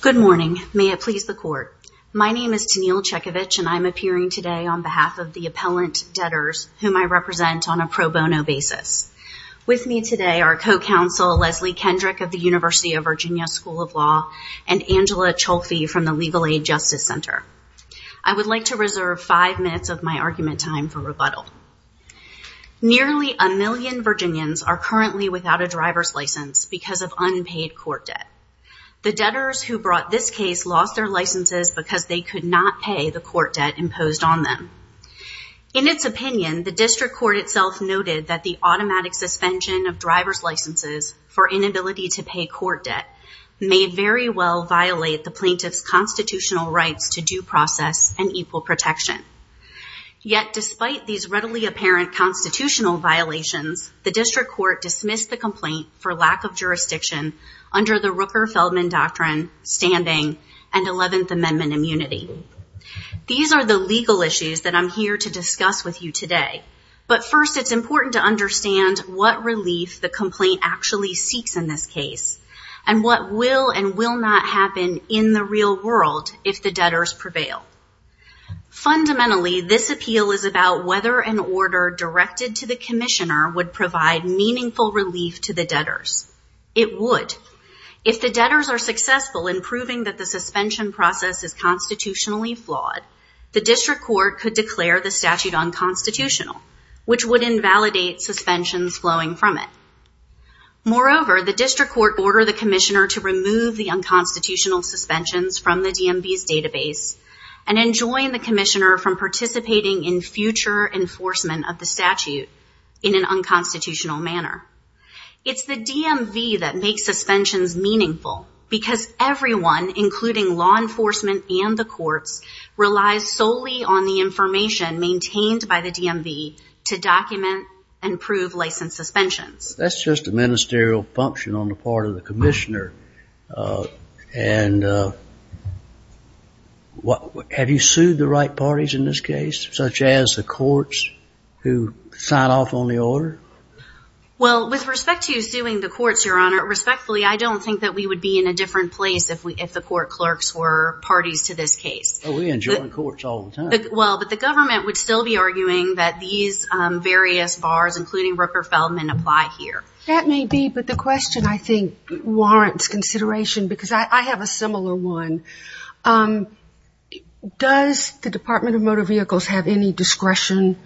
Good morning. May it please the court. My name is Tenille Chekovich and I'm appearing today on behalf of the appellant debtors whom I represent on a pro bono basis. With me today are co-counsel Leslie Kendrick of the University of Virginia School of Law and Angela Cholfi from the Legal Aid Justice Center. I would like to reserve five minutes of my argument time for rebuttal. Nearly a million Virginians are currently without a driver's license because of unpaid court debt. The debtors who brought this case lost their licenses because they could not pay the court debt imposed on them. In its opinion, the district court itself noted that the automatic suspension of driver's licenses for inability to pay court debt may very well violate the plaintiff's Despite these readily apparent constitutional violations, the district court dismissed the complaint for lack of jurisdiction under the Rooker-Feldman doctrine, standing, and 11th Amendment immunity. These are the legal issues that I'm here to discuss with you today, but first it's important to understand what relief the complaint actually seeks in this case and what will and will not happen in the real world if the debtors prevail. Fundamentally, this appeal is about whether an order directed to the commissioner would provide meaningful relief to the debtors. It would. If the debtors are successful in proving that the suspension process is constitutionally flawed, the district court could declare the statute unconstitutional, which would invalidate suspensions flowing from it. Moreover, the district court ordered the commissioner to remove the unconstitutional suspensions from the DMV's database and enjoin the commissioner from participating in future enforcement of the statute in an unconstitutional manner. It's the DMV that makes suspensions meaningful because everyone, including law enforcement and the courts, relies solely on the information maintained by the DMV to document and prove license suspensions. That's just a ministerial function on the part of the commissioner, and have you sued the right such as the courts who signed off on the order? Well, with respect to suing the courts, Your Honor, respectfully, I don't think that we would be in a different place if the court clerks were parties to this case. Oh, we enjoin courts all the time. Well, but the government would still be arguing that these various bars, including Rooker-Feldman, apply here. That may be, but the question I think warrants consideration because I have a similar one. Does the Department of Motor Vehicles have any discretion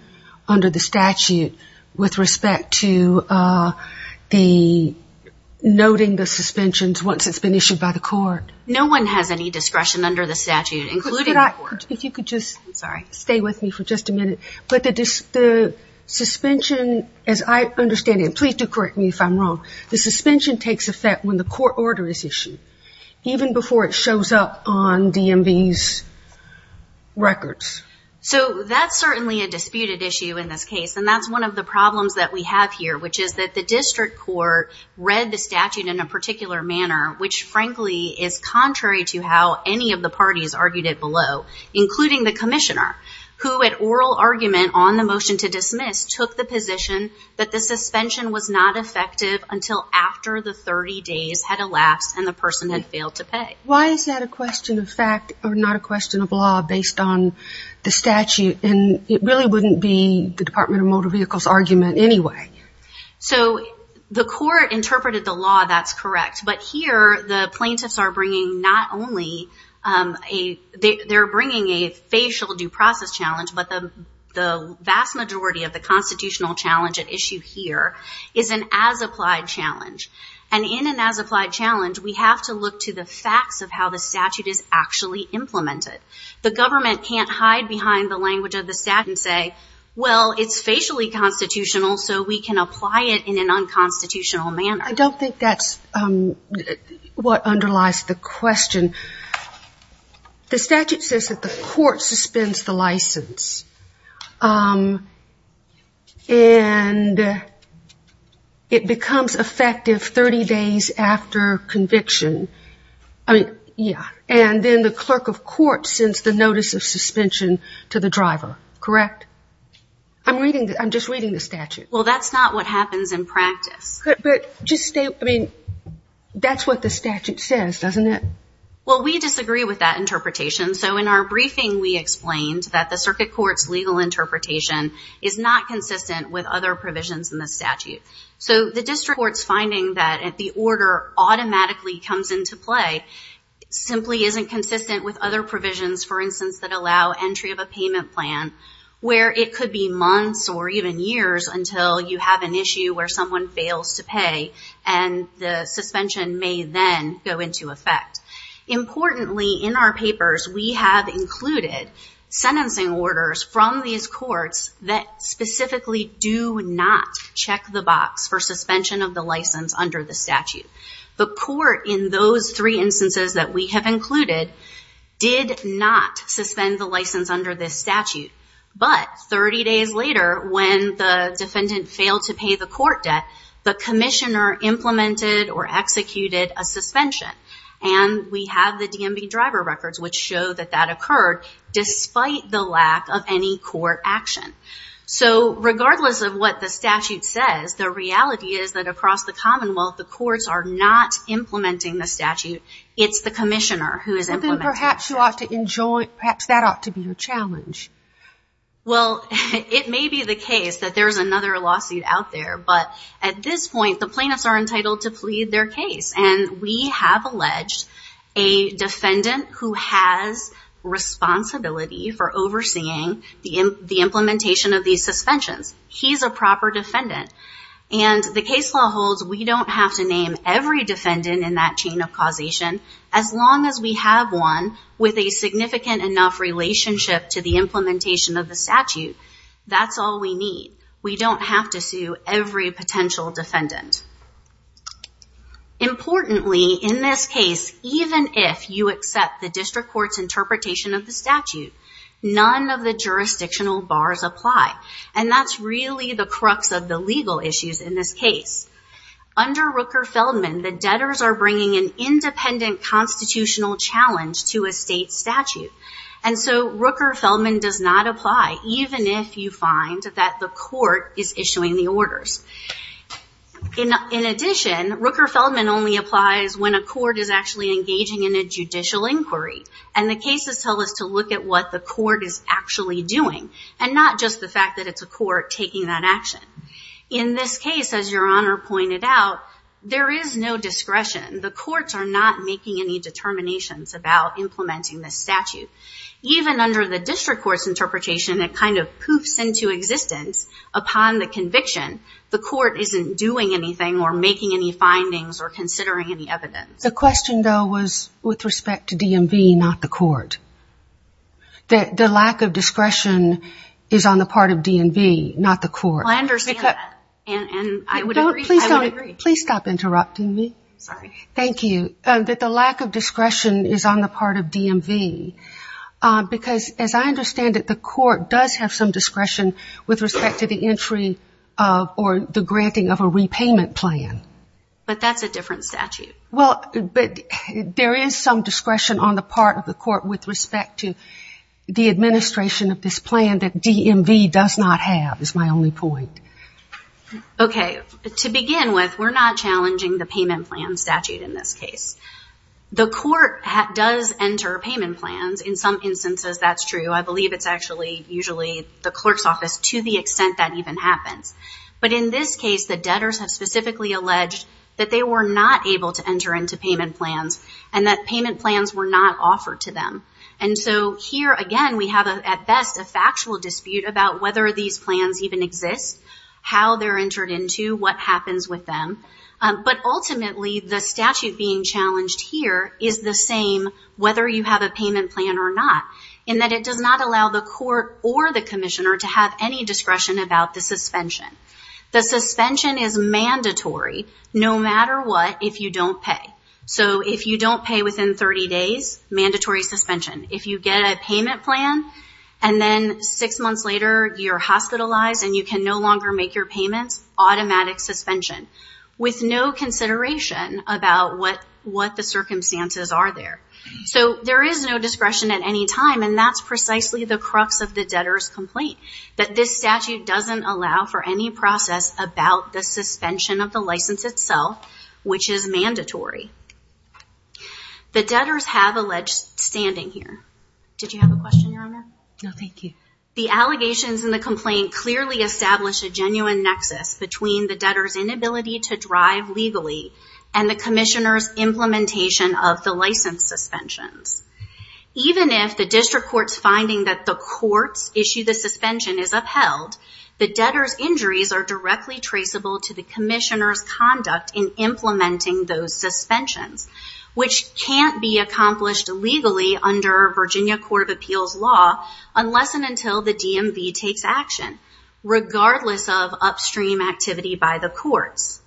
under the statute with respect to the noting the suspensions once it's been issued by the court? No one has any discretion under the statute, including the court. If you could just stay with me for just a minute, but the suspension, as I understand it, please do correct me if I'm wrong, the suspension takes effect when the court order is issued, even before it shows up on DMV's records. So that's certainly a disputed issue in this case, and that's one of the problems that we have here, which is that the district court read the statute in a particular manner, which frankly is contrary to how any of the parties argued it below, including the commissioner, who at oral argument on the motion to dismiss took the position that the suspension was not effective until after the 30 days had elapsed and the person had failed to pay. Why is that a question of fact or not a question of law based on the statute, and it really wouldn't be the Department of Motor Vehicles' argument anyway? So the court interpreted the law, that's correct, but here the plaintiffs are bringing not only a, they're bringing a facial due process challenge, but the vast majority of the constitutional challenge at issue here is an as applied challenge, and in an as applied challenge we have to look to the facts of how the statute is actually implemented. The government can't hide behind the language of the statute and say, well, it's facially constitutional, so we can apply it in an unconstitutional manner. I don't think that's what underlies the question. The statute says that the court suspends the license, and it becomes effective 30 days after conviction. I mean, yeah, and then the clerk of court sends the notice of suspension to the driver, correct? I'm reading, I'm just reading the statute. Well, that's not what happens in practice. But just stay, I mean, that's what the statute says, doesn't it? Well, we disagree with that interpretation. So in our briefing, we explained that the circuit court's legal interpretation is not consistent with other provisions in the statute. So the district court's finding that the order automatically comes into play simply isn't consistent with other provisions, for instance, that allow entry of a payment plan, where it could be months or even years until you have an issue where someone fails to pay, and the suspension may then go into effect. Importantly, in our papers, we have included sentencing orders from these courts that specifically do not check the box for suspension of the license under the statute. The court, in those three instances that we have included, did not suspend the license under this statute, but 30 days later, when the defendant failed to pay the court debt, the commissioner implemented or we have the DMV driver records which show that that occurred despite the lack of any court action. So regardless of what the statute says, the reality is that across the commonwealth, the courts are not implementing the statute. It's the commissioner who is implementing it. Then perhaps you ought to enjoin, perhaps that ought to be your challenge. Well, it may be the case that there's another lawsuit out there, but at this point, the defendant who has responsibility for overseeing the implementation of these suspensions, he's a proper defendant. And the case law holds we don't have to name every defendant in that chain of causation, as long as we have one with a significant enough relationship to the implementation of the statute. That's all we need. We don't have to sue every potential defendant. Importantly, in this case, even if you accept the district court's interpretation of the statute, none of the jurisdictional bars apply. And that's really the crux of the legal issues in this case. Under Rooker-Feldman, the debtors are bringing an independent constitutional challenge to a state statute. And so Rooker-Feldman does not apply, even if you find that the court is issuing the In addition, Rooker-Feldman only applies when a court is actually engaging in a judicial inquiry. And the cases tell us to look at what the court is actually doing, and not just the fact that it's a court taking that action. In this case, as Your Honor pointed out, there is no discretion. The courts are not making any determinations about implementing this statute. Even under the district court's interpretation, it kind of poofs into existence upon the conviction. The court isn't doing anything, or making any findings, or considering any evidence. The question, though, was with respect to DMV, not the court. That the lack of discretion is on the part of DMV, not the court. Well, I understand that. And I would agree. Please don't. Please stop interrupting me. Sorry. Thank you. That the lack of discretion is on the part of DMV. Because as I understand it, the court does have some discretion with respect to the entry or the granting of a repayment plan. But that's a different statute. Well, but there is some discretion on the part of the court with respect to the administration of this plan that DMV does not have, is my only point. Okay. To begin with, we're not challenging the payment plan statute in this case. The court does enter payment plans. In some instances, that's true. I believe it's actually, usually, the clerk's office, to the extent that even happens. But in this case, the debtors have specifically alleged that they were not able to enter into payment plans, and that payment plans were not offered to them. And so here, again, we have, at best, a factual dispute about whether these plans even exist, how they're entered into, what happens with them. But ultimately, the statute being challenged here is the same, whether you have a payment plan or not, in that it does not allow the court or the commissioner to have any discretion about the suspension. The suspension is mandatory, no matter what, if you don't pay. So if you don't pay within 30 days, mandatory suspension. If you get a payment plan, and then six months later, you're hospitalized, and you can no longer make your payments, automatic suspension, with no consideration about what the circumstances are there. So there is no discretion at any time, and that's precisely the crux of the debtor's complaint, that this statute doesn't allow for any process about the suspension of the license itself, which is mandatory. The debtors have alleged standing here. Did you have a question, Your Honor? No, thank you. The allegations in the complaint clearly establish a genuine nexus between the debtor's inability to drive legally, and the commissioner's implementation of the license suspensions. Even if the district court's finding that the courts issue the suspension is upheld, the debtor's injuries are directly traceable to the commissioner's conduct in implementing those suspensions, which can't be accomplished legally under Virginia Court of Appeals law, unless and until the DMV takes action, regardless of upstream activity by the courts.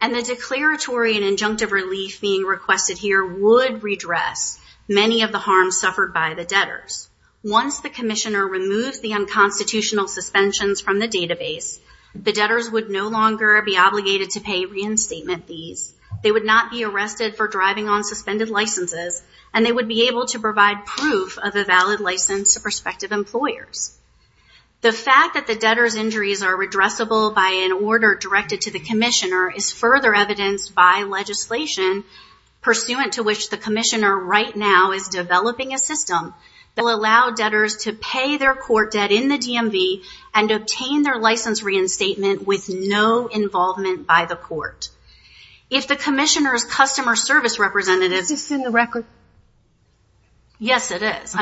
And the declaratory and injunctive relief being requested here would redress many of the harms suffered by the debtors. Once the commissioner removes the unconstitutional suspensions from the database, the debtors would no longer be obligated to pay reinstatement fees. They would not be arrested for driving on suspended licenses, and they would be able to provide proof of a valid license to prospective employers. The fact that the debtor's injuries are redressable by an order directed to the commissioner is further evidenced by legislation pursuant to which the commissioner right now is developing a system that will allow debtors to pay their court debt in the DMV and obtain their license reinstatement with no involvement by the court. If the commissioner's customer service representative... Is this in the record? Yes, it is.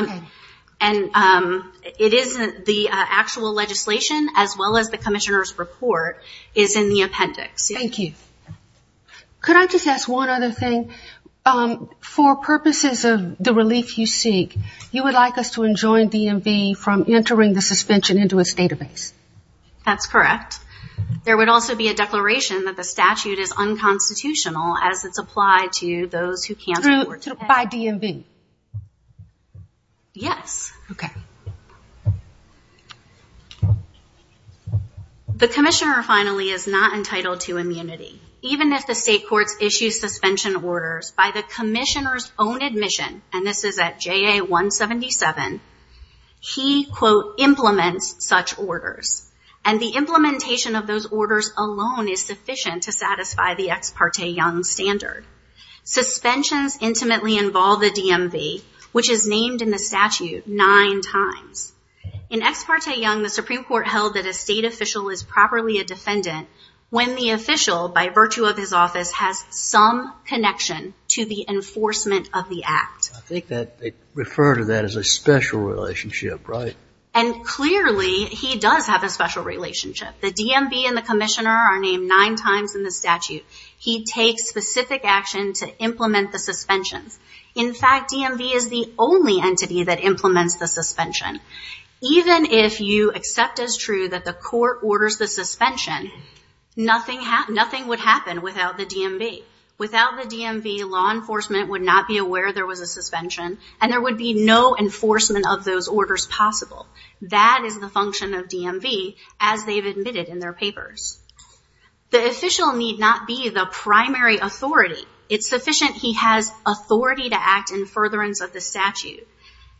And the actual legislation, as well as the commissioner's report, is in the appendix. Thank you. Could I just ask one other thing? For purposes of the relief you seek, you would like us to enjoin DMV from entering the suspension into its database? That's correct. There would also be a declaration that the statute is unconstitutional as it's applied to those who can't afford to pay... By DMV? Yes. Okay. The commissioner, finally, is not entitled to immunity. Even if the state courts issue suspension orders by the commissioner's own admission, and this is at JA-177, he, quote, implements such orders. And the implementation of those orders alone is sufficient to satisfy the Ex Parte Young standard. Suspensions intimately involve the DMV, which is named in the statute nine times. In Ex Parte Young, the Supreme Court held that a state official is properly a defendant when the official, by virtue of his office, has some connection to the enforcement of the act. They refer to that as a special relationship, right? And clearly, he does have a special relationship. The DMV and the commissioner are named nine times in the statute. He takes specific action to implement the suspensions. In fact, DMV is the only entity that implements the suspension. Even if you accept as true that the court orders the suspension, nothing would happen without the DMV. Without the DMV, law enforcement would not be aware there was a suspension, and there would be no enforcement of those orders possible. That is the function of DMV, as they've admitted in their papers. The official need not be the primary authority. It's sufficient he has authority to act in furtherance of the statute.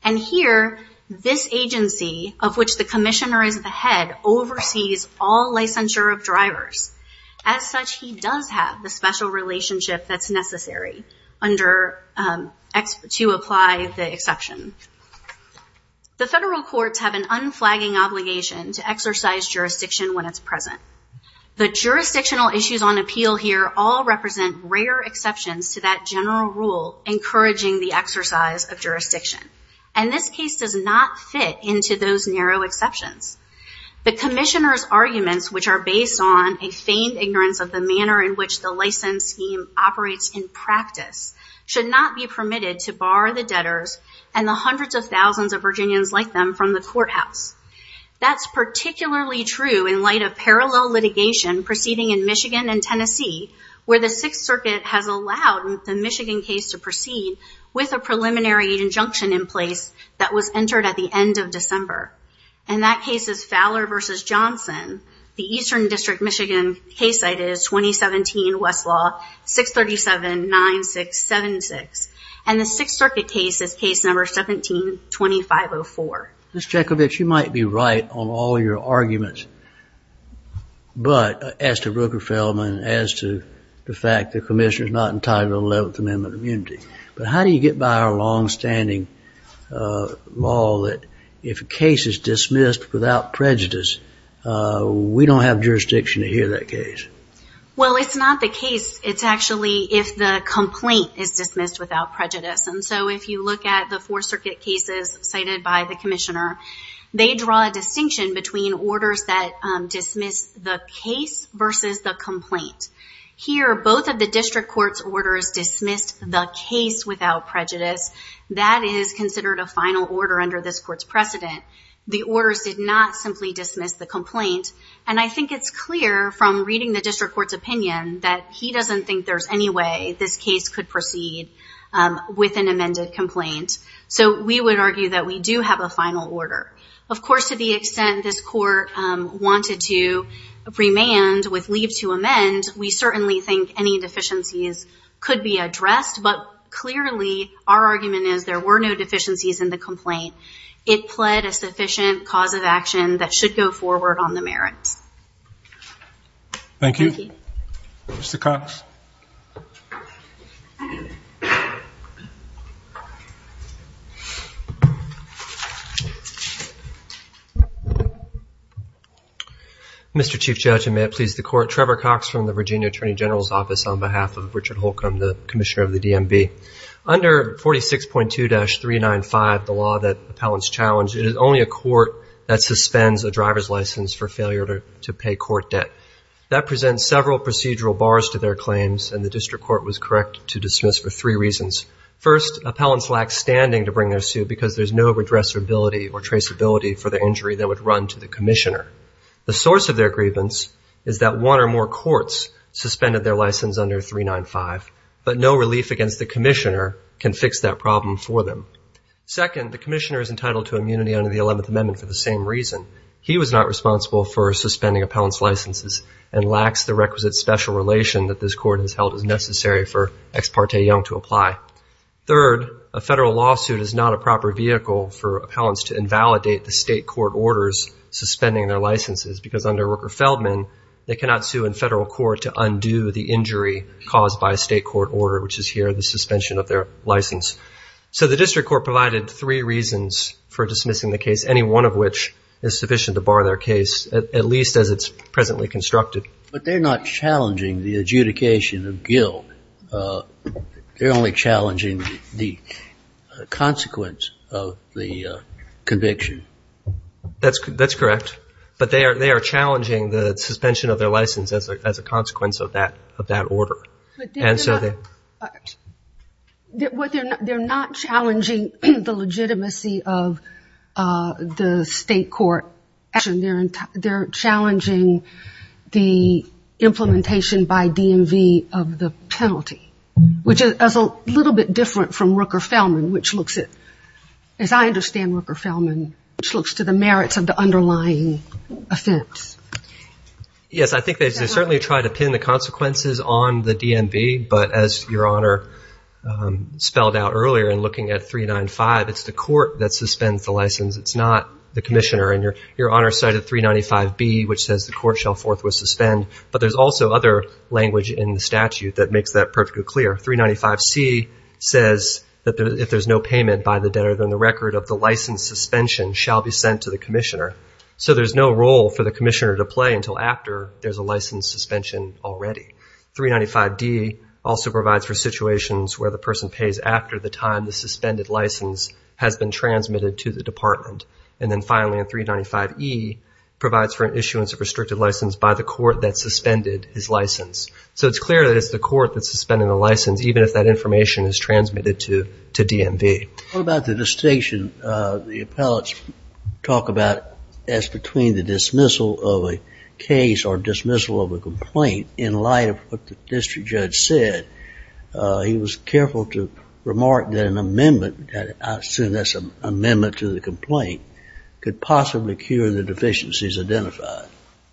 And here, this agency, of which the commissioner is the head, oversees all licensure of drivers. As such, he does have the special relationship that's necessary to apply the exception. The federal courts have an unflagging obligation to exercise jurisdiction when it's present. The jurisdictional issues on appeal here all represent rare exceptions to that general rule encouraging the exercise of jurisdiction. And this case does not fit into those narrow exceptions. The commissioner's arguments, which are based on a feigned ignorance of the manner in which the license scheme operates in practice, should not be permitted to bar the debtors and the hundreds of thousands of Virginians like them from the courthouse. That's particularly true in light of parallel litigation proceeding in Michigan and Tennessee, where the Sixth Circuit has allowed the Michigan case to proceed with a preliminary injunction in place that was entered at the end of December. And that case is Fowler v. Johnson. The Eastern District, Michigan case cited is 2017 Westlaw 637-9676. And the Sixth Circuit case is case number 17-2504. Ms. Jekovic, you might be right on all your arguments, but as to Rooker-Feldman, as to the fact the commissioner's not entitled to the 11th Amendment of Immunity, but how do you get by our longstanding law that if a case is dismissed without prejudice, we don't have jurisdiction to hear that case? Well, it's not the case. It's actually if the complaint is dismissed without prejudice. And so if you look at the Fourth Circuit cases cited by the commissioner, they draw a distinction between orders that dismiss the case versus the complaint. Here, both of the district court's orders dismissed the case without prejudice. That is considered a final order under this court's precedent. The orders did not simply dismiss the complaint. And I think it's clear from reading the district court's opinion that he doesn't think there's any way this case could proceed with an amended complaint. So we would argue that we do have a final order. Of course, to the extent this court wanted to remand with leave to amend, we certainly think any deficiencies could be addressed. But clearly, our argument is there were no deficiencies in the complaint. It pled a sufficient cause of action that should go forward on the merits. Thank you. Mr. Cox. Mr. Chief Judge, and may it please the court. Trevor Cox from the Virginia Attorney General's Office on behalf of Richard Holcomb, the commissioner of the DMV. Under 46.2-395, the law that appellants challenge, it is only a court that suspends a driver's license for failure to pay court debt. That presents several procedural bars to their claims, and the district court was correct to dismiss for three reasons. First, appellants lack standing to bring their suit because there's no redressability or traceability for the injury that would run to the commissioner. The source of their grievance is that one or more courts suspended their license under 395. But no relief against the commissioner can fix that problem for them. Second, the commissioner is entitled to immunity under the 11th Amendment for the same reason. He was not responsible for suspending appellant's licenses and lacks the requisite special relation that this court has held is necessary for Ex parte Young to apply. Third, a federal lawsuit is not a proper vehicle for appellants to invalidate the state court orders suspending their licenses because under Rooker-Feldman, they cannot sue in federal court to undo the injury caused by a state court order, which is here the suspension of their license. So the district court provided three reasons for dismissing the case, any one of which is sufficient to bar their case, at least as it's presently constructed. But they're not challenging the adjudication of guilt. They're only challenging the consequence of the conviction. That's correct. But they are challenging the suspension of their license as a consequence of that order. They're not challenging the legitimacy of the state court. They're challenging the implementation by DMV of the penalty, which is a little bit different from Rooker-Feldman, which looks at, as I understand Rooker-Feldman, which looks to the merits of the underlying offense. Yes, I think they certainly try to pin the consequences on the DMV. But as Your Honor spelled out earlier in looking at 395, it's the court that suspends the license. It's not the commissioner. And Your Honor cited 395B, which says the court shall forthwith suspend. But there's also other language in the statute that makes that perfectly clear. 395C says that if there's no payment by the debtor, then the record of the license suspension shall be sent to the commissioner. So there's no role for the commissioner to play until after there's a license suspension already. 395D also provides for situations where the person pays after the time the suspended license has been transmitted to the department. And then finally, 395E provides for an issuance of restricted license by the court that suspended his license. So it's clear that it's the court that's suspending the license, even if that information is transmitted to DMV. What about the distinction the appellates talk about as between the dismissal of a case or dismissal of a complaint in light of what the district judge said? He was careful to remark that an amendment, that I assume that's an amendment to the complaint, could possibly cure the deficiencies identified.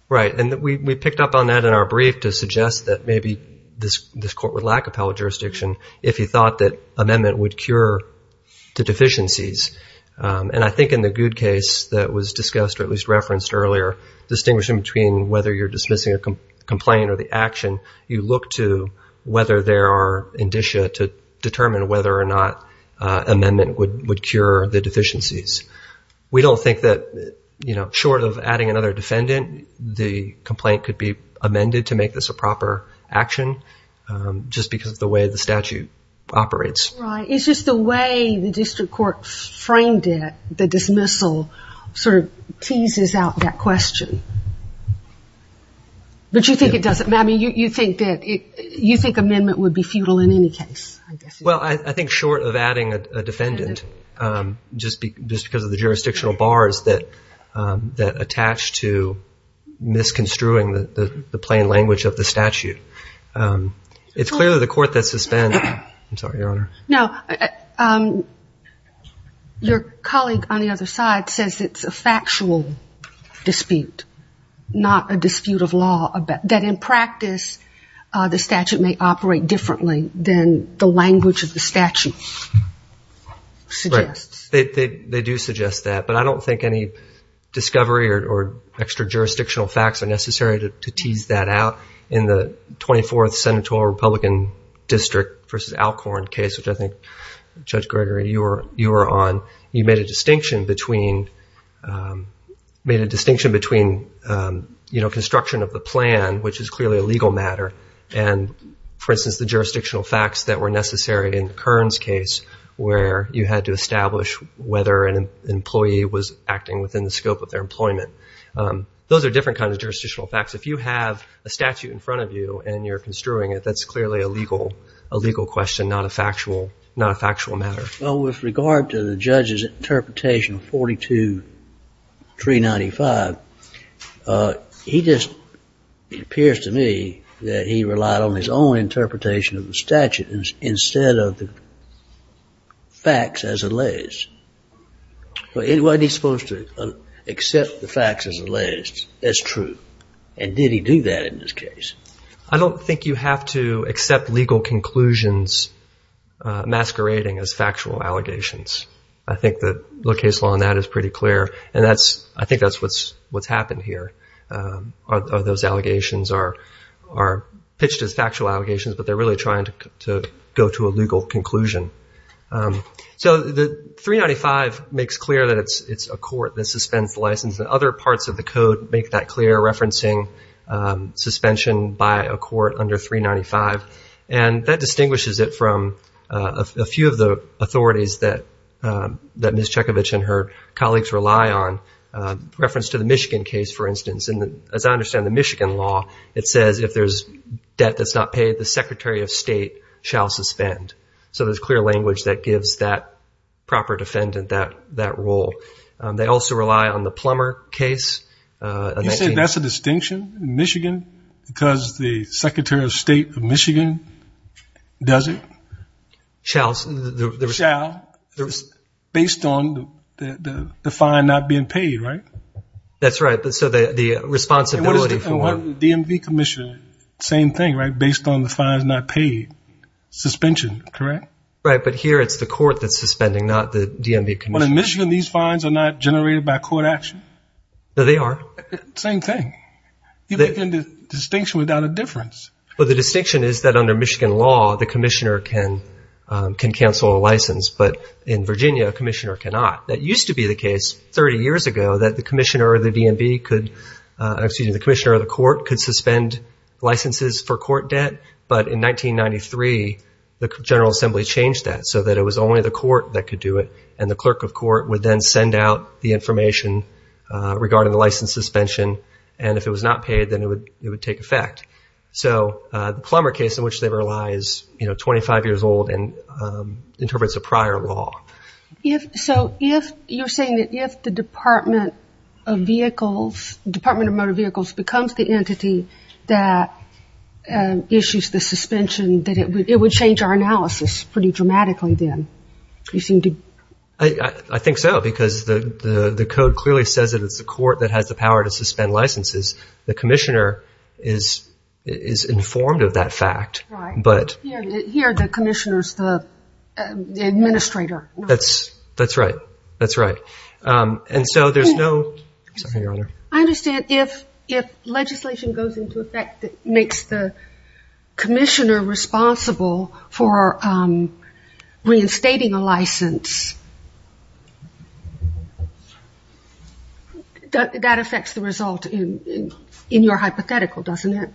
Right, and we picked up on that in our brief to suggest that maybe this court would lack appellate jurisdiction if he thought that amendment would cure the deficiencies. And I think in the Goode case that was discussed or at least referenced earlier, distinguishing between whether you're dismissing a complaint or the action, you look to whether there are indicia to determine whether or not amendment would cure the deficiencies. We don't think that, you know, short of adding another defendant, the complaint could be amended to make this a proper action just because of the way the statute operates. Right, it's just the way the district court framed it, the dismissal, sort of teases out that question. But you think it doesn't, I mean, you think that, you think amendment would be futile in any case, I guess. Well, I think short of adding a defendant, just because of the jurisdictional bars that attach to misconstruing the plain language of the statute. It's clearly the court that's suspended. I'm sorry, Your Honor. No, your colleague on the other side says it's a factual dispute, not a dispute of law, that in practice the statute may operate differently than the language of the statute suggests. They do suggest that. But I don't think any discovery or extra jurisdictional facts are necessary to tease that out. In the 24th Senatorial Republican District versus Alcorn case, which I think, Judge Gregory, you were on, you made a distinction between, made a distinction between, you know, construction of the plan, which is clearly a legal matter, and, for instance, the jurisdictional facts that were necessary in Kern's case where you had to establish whether an employee was acting within the scope of their employment. Those are different kinds of jurisdictional facts. If you have a statute in front of you and you're construing it, that's clearly a legal question, not a factual matter. Well, with regard to the judge's interpretation of 42-395, he just, it appears to me, that he relied on his own interpretation of the statute instead of the facts as it lays. Well, wasn't he supposed to accept the facts as it lays? That's true. And did he do that in this case? I don't think you have to accept legal conclusions masquerading as factual allegations. I think the low case law on that is pretty clear. And that's, I think that's what's happened here. Those allegations are pitched as factual allegations, but they're really trying to go to a legal conclusion. So the 395 makes clear that it's a court that suspends the license. And other parts of the code make that clear, referencing suspension by a court under 395. And that distinguishes it from a few of the authorities that Ms. Chekovich and her colleagues rely on. Reference to the Michigan case, for instance. And as I understand the Michigan law, it says if there's debt that's not paid, the Secretary of State shall suspend. So there's clear language that gives that proper defendant that role. They also rely on the Plummer case. You said that's a distinction in Michigan because the Secretary of State of Michigan does it? Shall. Shall. Based on the fine not being paid, right? That's right. So the responsibility. And what about the DMV commission? Same thing, right? Based on the fines not paid. Suspension, correct? Right, but here it's the court that's suspending, not the DMV commission. But in Michigan, these fines are not generated by court action? No, they are. Same thing. You're making the distinction without a difference. Well, the distinction is that under Michigan law, the commissioner can cancel a license. But in Virginia, a commissioner cannot. That used to be the case 30 years ago that the commissioner of the DMV could, excuse me, the commissioner of the court could suspend licenses for court debt. But in 1993, the General Assembly changed that so that it was only the court that could do it. And the clerk of court would then send out the information regarding the license suspension. And if it was not paid, then it would take effect. So the Plummer case in which they were lies, you know, 25 years old and interprets a prior law. So you're saying that if the Department of Motor Vehicles becomes the entity that issues the suspension, that it would change our analysis pretty dramatically then? I think so, because the code clearly says that it's the court that has the power to suspend licenses. The commissioner is informed of that fact. Here, the commissioner is the administrator. That's right. And so there's no... I understand if legislation goes into effect that makes the commissioner responsible for reinstating a license, that affects the result in your hypothetical, doesn't it?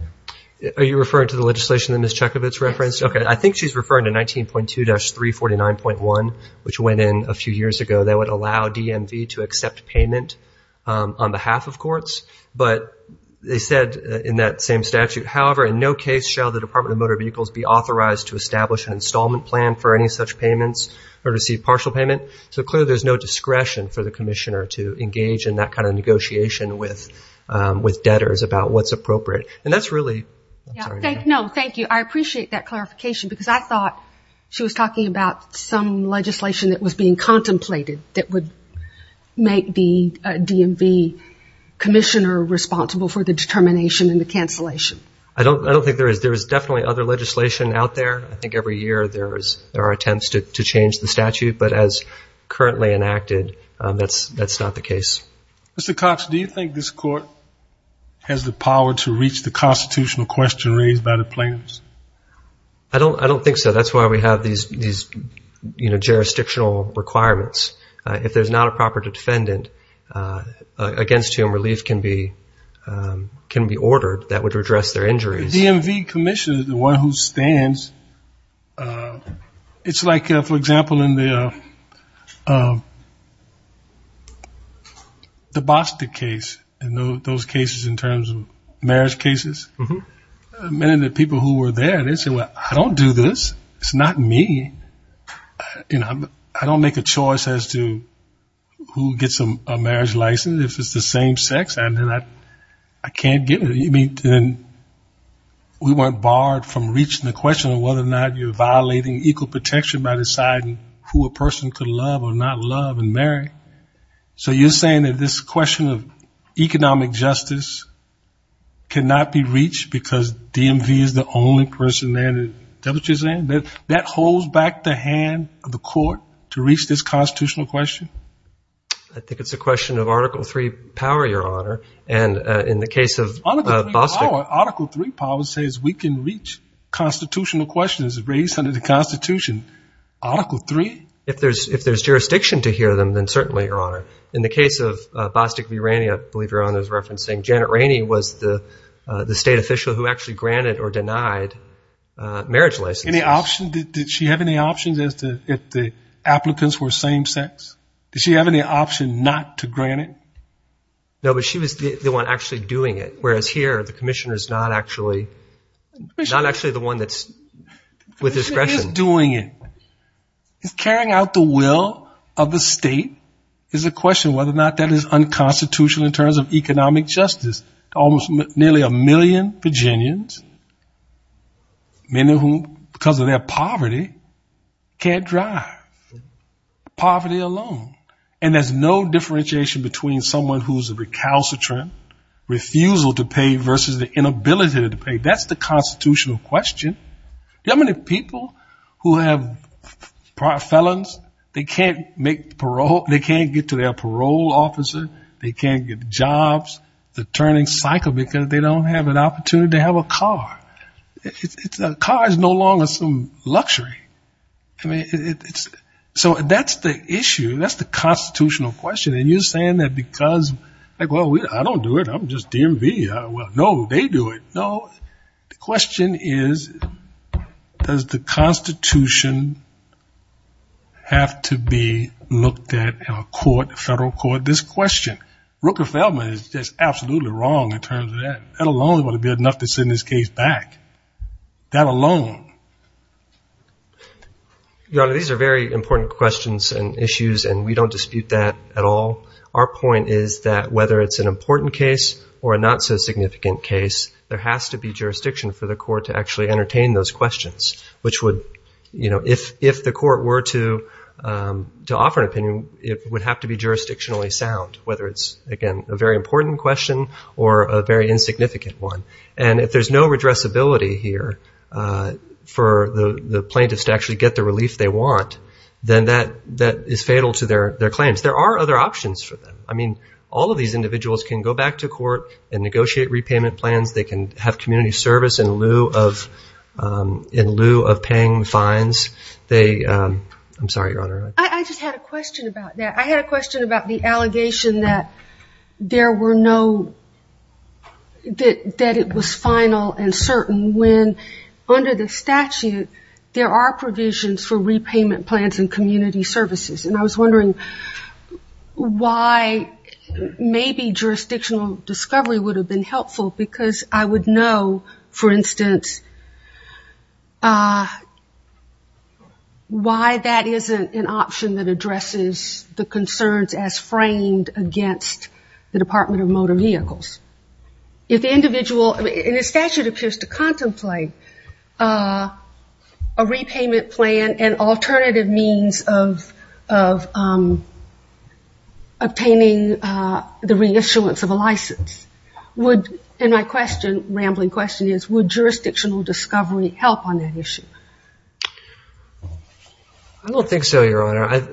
Are you referring to the legislation that Ms. Chekovitz referenced? Okay, I think she's referring to 19.2-349.1, which went in a few years ago that would allow DMV to accept payment on behalf of courts. But they said in that same statute, however, in no case shall the Department of Motor Vehicles be authorized to establish an installment plan for any such payments or receive partial payment. So clearly there's no discretion for the commissioner to engage in that kind of negotiation with debtors about what's appropriate. And that's really... No, thank you. I appreciate that clarification, because I thought she was talking about some legislation that was being contemplated that would make the DMV commissioner responsible for the determination and the cancellation. I don't think there is. There is definitely other legislation out there. I think every year there are attempts to change the statute, but as currently enacted, that's not the case. Mr. Cox, do you think this court has the power to reach the constitutional question raised by the plaintiffs? I don't think so. That's why we have these jurisdictional requirements. If there's not a proper defendant, against whom relief can be ordered, that would redress their injuries. The DMV commissioner is the one who stands. It's like, for example, in the Bostick case, in those cases in terms of marriage cases, many of the people who were there, they said, I don't do this. It's not me. I don't make a choice as to who gets a marriage license. If it's the same sex, I can't get it. We weren't barred from reaching the question of whether or not you're violating equal protection by deciding who a person could love or not love and marry. So you're saying that this question of economic justice cannot be reached because DMV is the only person there? That holds back the hand of the court to reach this constitutional question? I think it's a question of Article III power, Your Honor. And in the case of Bostick- Article III power says we can reach constitutional questions raised under the Constitution. Article III? If there's jurisdiction to hear them, then certainly, Your Honor. In the case of Bostick v. Ranney, I believe Your Honor is referencing, Janet Ranney was the state official who actually granted or denied marriage licenses. Any option? Did she have any options as to if the applicants were same sex? Did she have any option not to grant it? No, but she was the one actually doing it. Whereas here, the commissioner is not actually the one that's with discretion. The commissioner is doing it. It's carrying out the will of the state is a question of whether or not that is unconstitutional in terms of economic justice. Nearly a million Virginians, many of whom, because of their poverty, can't drive. Poverty alone. And there's no differentiation between someone who's a recalcitrant, refusal to pay versus the inability to pay. That's the constitutional question. There are many people who have felons. They can't make parole. They can't get to their parole officer. They can't get jobs. The turning cycle, because they don't have an opportunity to have a car. Cars are no longer some luxury. So that's the issue. That's the constitutional question. And you're saying that because, like, well, I don't do it. I'm just DMV. Well, no, they do it. The question is, does the Constitution have to be looked at in a court, a federal court? This question. Rooker-Feldman is just absolutely wrong in terms of that. That alone would be enough to send this case back. That alone. Your Honor, these are very important questions and issues, and we don't dispute that at all. Our point is that whether it's an important case or a not-so-significant case, there has to be jurisdiction for the court to actually entertain those questions, which would, you know, if the court were to offer an opinion, it would have to be jurisdictionally sound, whether it's, again, a very important question or a very insignificant one. And if there's no redressability here for the plaintiffs to actually get the relief they want, then that is fatal to their claims. There are other options for them. I mean, all of these individuals can go back to court and negotiate repayment plans. They can have community service in lieu of paying fines. I'm sorry, Your Honor. I just had a question about that. I had a question about the allegation that there were no, that it was final and certain when under the statute, there are provisions for repayment plans and community services. And I was wondering why maybe jurisdictional discovery would have been helpful because I would know, for instance, why that isn't an option that addresses the concerns as framed against the Department of Motor Vehicles. If the individual, and the statute appears to contemplate a repayment plan and alternative means of obtaining the reissuance of a license, would, and my question, rambling question is, would jurisdictional discovery help on that issue? I don't think so, Your Honor.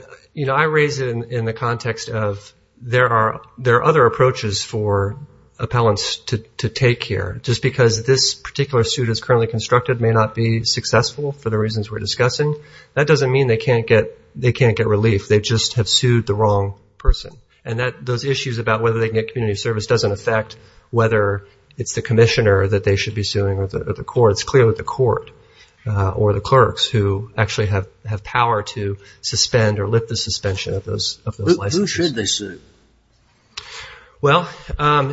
I raise it in the context of there are other approaches for appellants to take here. Just because this particular suit is currently constructed may not be successful for the reasons we're discussing. That doesn't mean they can't get relief. They just have sued the wrong person. And those issues about whether they can get community service doesn't affect whether it's the commissioner that they should be suing or the court. It's clearly the court or the clerks who actually have power to suspend or lift the suspension of those licenses. Who should they sue? Well,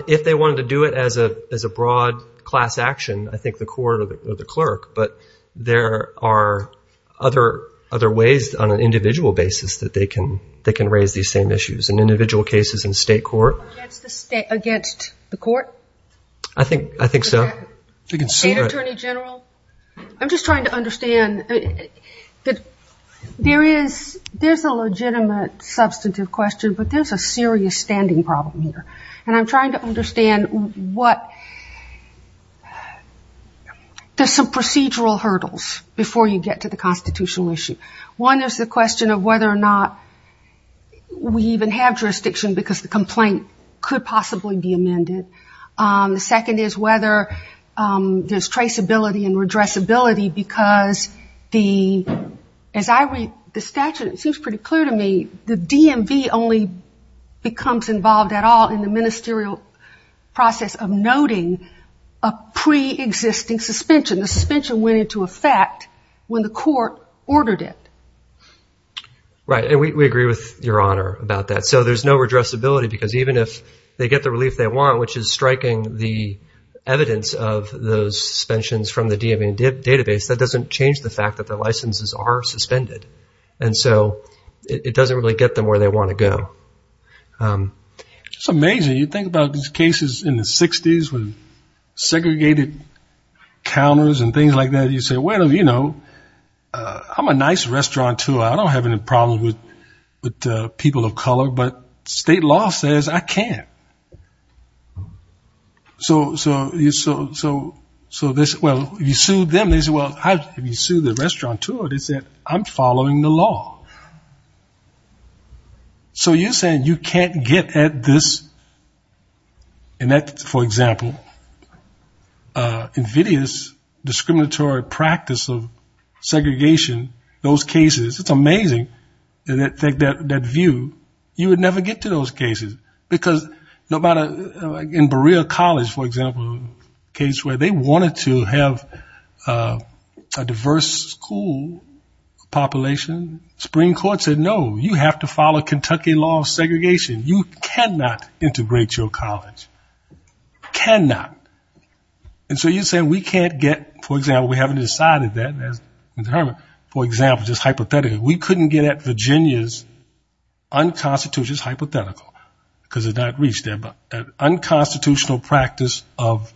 if they wanted to do it as a broad class action, I think the court or the clerk. But there are other ways on an individual basis that they can raise these same issues. And individual cases in state court. Against the court? I think so. State attorney general? I'm just trying to understand. There's a legitimate substantive question, but there's a serious standing problem here. And I'm trying to understand what... There's some procedural hurdles before you get to the constitutional issue. One is the question of whether or not we even have jurisdiction because the complaint could possibly be amended. The second is whether there's traceability and redressability because as I read the statute, it seems pretty clear to me the DMV only becomes involved at all in the ministerial process of noting a pre-existing suspension. The suspension went into effect when the court ordered it. Right. And we agree with your honor about that. So there's no redressability because even if they get the relief they want, which is striking the evidence of those suspensions from the DMV database, that doesn't change the fact that the licenses are suspended. And so it doesn't really get them where they want to go. It's amazing. You think about these cases in the 60s with segregated counters and things like that. You say, well, you know, I'm a nice restaurateur. I don't have any problems with people of color, but state law says I can't. So you sue them. They say, well, have you sued the restaurateur? They said, I'm following the law. So you're saying you can't get at this, and that, for example, invidious discriminatory practice of segregation, those cases. It's amazing that view. You would never get to those cases because no matter, in Berea College, for example, a case where they wanted to have a diverse school population, Supreme Court said, no, you have to follow Kentucky law of segregation. You cannot integrate your college. Cannot. And so you're saying we can't get, for example, we haven't decided that. For example, just hypothetically, we couldn't get at Virginia's unconstitutional, hypothetical, because it's not reached there, but unconstitutional practice of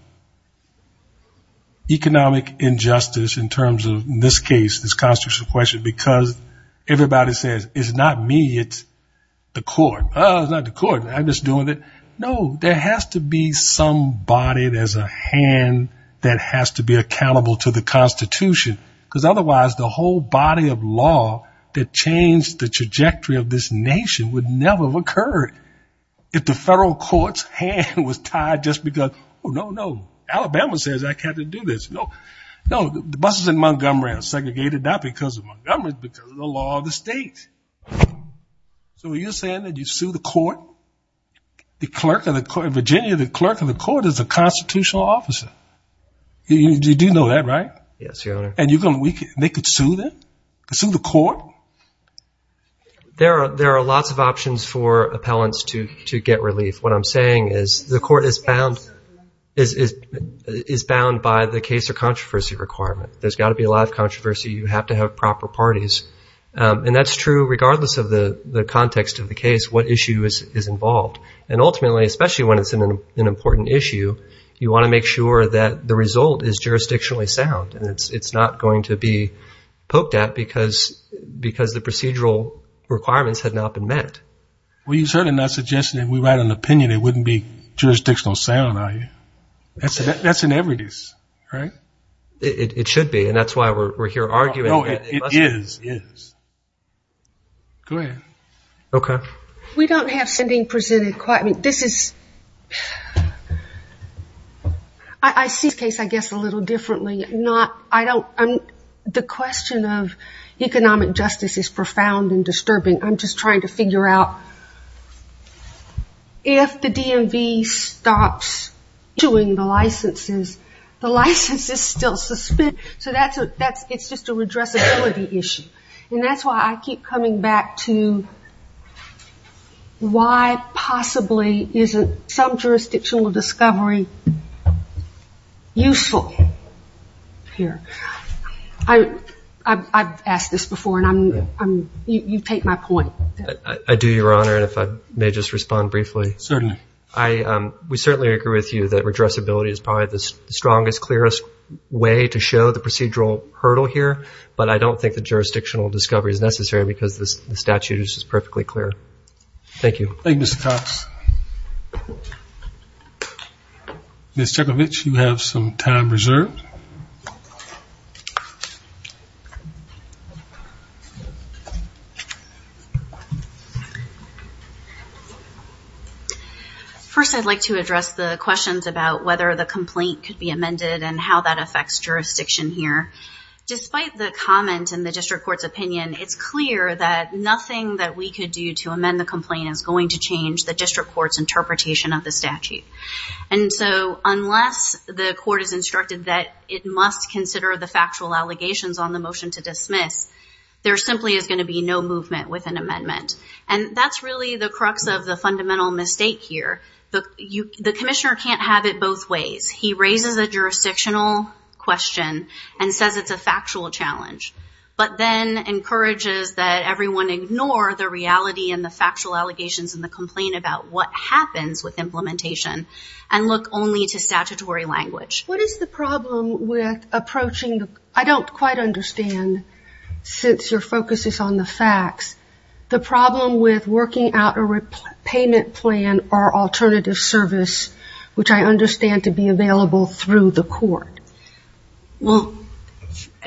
economic injustice in terms of, in this case, this constitutional question, because everybody says, it's not me. It's the court. Oh, it's not the court. I'm just doing it. No, there has to be some body. There's a hand that has to be accountable to the Constitution, because otherwise the whole body of law that changed the trajectory of this nation would never have occurred if the federal court's hand was tied just because, oh, no, no, Alabama says I can't do this. No, no, the buses in Montgomery are segregated, not because of Montgomery, but because of the law of the state. So are you saying that you sue the court, the clerk of the court? In Virginia, the clerk of the court is a constitutional officer. You do know that, right? Yes, Your Honor. And they could sue them, sue the court? There are lots of options for appellants to get relief. What I'm saying is the court is bound by the case or controversy requirement. There's got to be a lot of controversy. You have to have proper parties. And that's true regardless of the context of the case, what issue is involved. And ultimately, especially when it's an important issue, you want to make sure that the result is jurisdictionally sound. And it's not going to be poked at because the procedural requirements had not been met. Well, you're certainly not suggesting that if we write an opinion, it wouldn't be jurisdictional sound, are you? That's inevitable, right? It should be. And that's why we're here arguing. No, it is. Go ahead. OK. We don't have something presented quite. I see this case, I guess, a little differently. The question of economic justice is profound and disturbing. I'm just trying to figure out if the DMV stops issuing the licenses, the license is still suspended. So it's just a redressability issue. And that's why I keep coming back to why, possibly, isn't some jurisdictional discovery useful here? I've asked this before, and you take my point. I do, Your Honor. And if I may just respond briefly. Certainly. We certainly agree with you that redressability is probably the strongest, clearest way to show the procedural hurdle here. But I don't think the jurisdictional discovery is necessary because the statute is perfectly clear. Thank you. Thank you, Mr. Cox. Ms. Cekovic, you have some time reserved. First, I'd like to address the questions about whether the complaint could be amended and how that affects jurisdiction here. Despite the comment in the district court's opinion, it's clear that nothing that we could do to amend the complaint is going to change the district court's interpretation of the statute. And so unless the court is instructed that it must consider the factual allegations on the motion to dismiss, there simply is going to be no movement with an amendment. And that's really the crux of the fundamental mistake here. The commissioner can't have it both ways. He raises a jurisdictional question and says it's a factual challenge, but then encourages that everyone ignore the reality and the factual allegations in the complaint about what happens with implementation and look only to statutory language. What is the problem with approaching? I don't quite understand, since your focus is on the facts. The problem with working out a payment plan or alternative service, which I understand to be available through the court. Well,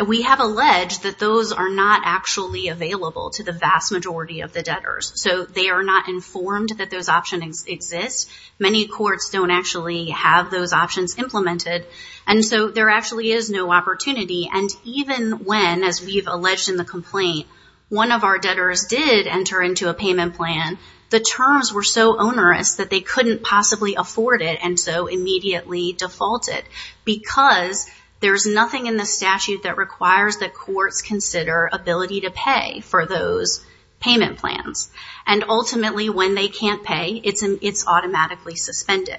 we have alleged that those are not actually available to the vast majority of the debtors. So they are not informed that those options exist. Many courts don't actually have those options implemented. And so there actually is no opportunity. And even when, as we've alleged in the complaint, one of our debtors did enter into a payment plan, the terms were so onerous that they couldn't possibly afford it. And so immediately defaulted because there's nothing in the statute that requires that courts consider ability to pay for those payment plans. And ultimately, when they can't pay, it's automatically suspended.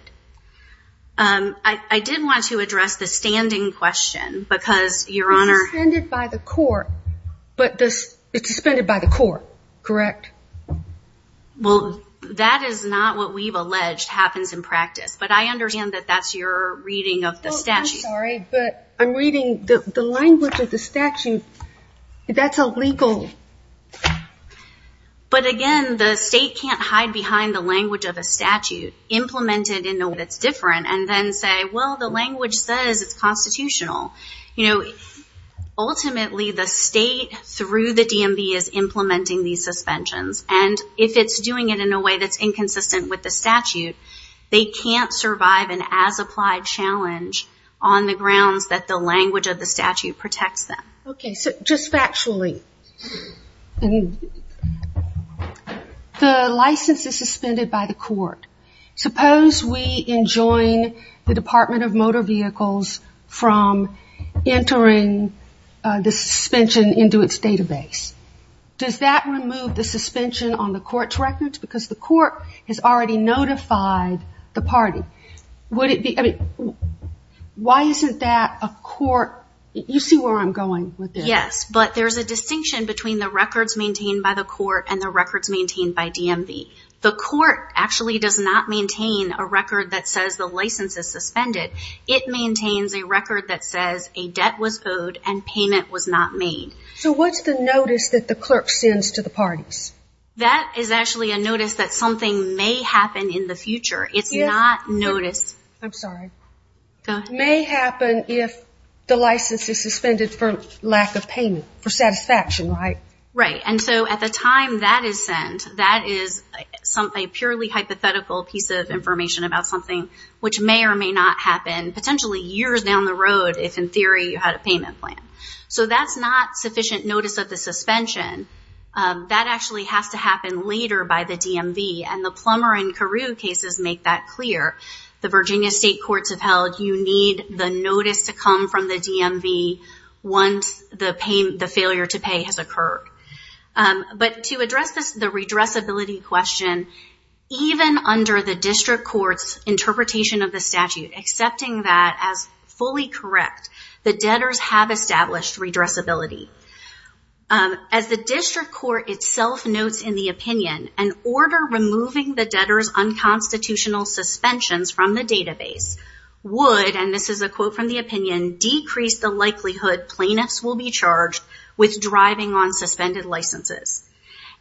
I did want to address the standing question because your honor... It's suspended by the court, correct? Well, that is not what we've alleged happens in practice. But I understand that that's your reading of the statute. I'm sorry, but I'm reading the language of the statute. That's illegal. But again, the state can't hide behind the language of a statute implemented in a way that's different and then say, well, the language says it's constitutional. You know, ultimately, the state through the DMV is implementing these suspensions. And if it's doing it in a way that's inconsistent with the statute, they can't survive an as-applied challenge on the grounds that the language of the statute protects them. Okay, so just factually, the license is suspended by the court. Suppose we enjoin the Department of Motor Vehicles from entering the suspension into its database. Does that remove the suspension on the court's records? Because the court has already notified the party. Would it be... Why isn't that a court... You see where I'm going with this. Yes, but there's a distinction between the records maintained by the court and the records maintained by DMV. The court actually does not maintain a record that says the license is suspended. It maintains a record that says a debt was owed and payment was not made. So what's the notice that the clerk sends to the parties? That is actually a notice that something may happen in the future. It's not notice... I'm sorry. May happen if the license is suspended for lack of payment, for satisfaction, right? Right. So at the time that is sent, that is a purely hypothetical piece of information about something which may or may not happen potentially years down the road if in theory you had a payment plan. So that's not sufficient notice of the suspension. That actually has to happen later by the DMV and the Plummer and Carew cases make that clear. The Virginia State Courts have held you need the notice to come from the DMV once the failure to pay has occurred. But to address the redressability question, even under the district court's interpretation of the statute, accepting that as fully correct, the debtors have established redressability. As the district court itself notes in the opinion, an order removing the debtors unconstitutional suspensions from the database would, and this is a quote from the opinion, decrease the likelihood plaintiffs will be charged with driving on suspended licenses.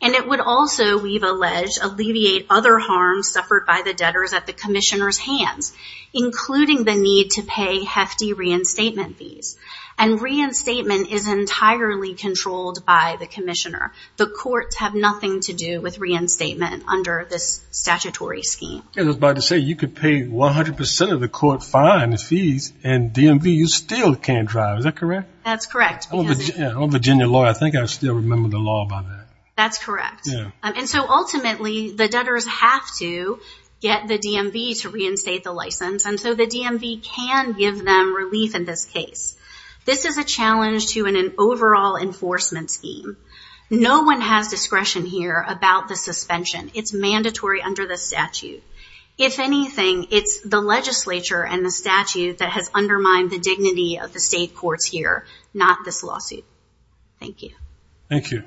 And it would also, we've alleged, alleviate other harms suffered by the debtors at the commissioner's hands, including the need to pay hefty reinstatement fees. And reinstatement is entirely controlled by the commissioner. The courts have nothing to do with reinstatement under this statutory scheme. And I was about to say, you could pay 100% of the court fine and fees and DMV, you still can't drive. Is that correct? That's correct. I'm a Virginia lawyer. I think I still remember the law by that. That's correct. And so ultimately the debtors have to get the DMV to reinstate the license. And so the DMV can give them relief in this case. This is a challenge to an overall enforcement scheme. No one has discretion here about the suspension. It's mandatory under the statute. If anything, it's the legislature and the statute that has undermined the dignity of the state courts here, not this lawsuit. Thank you. Thank you.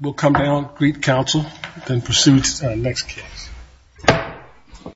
We'll come down, greet counsel, then proceed to our next case.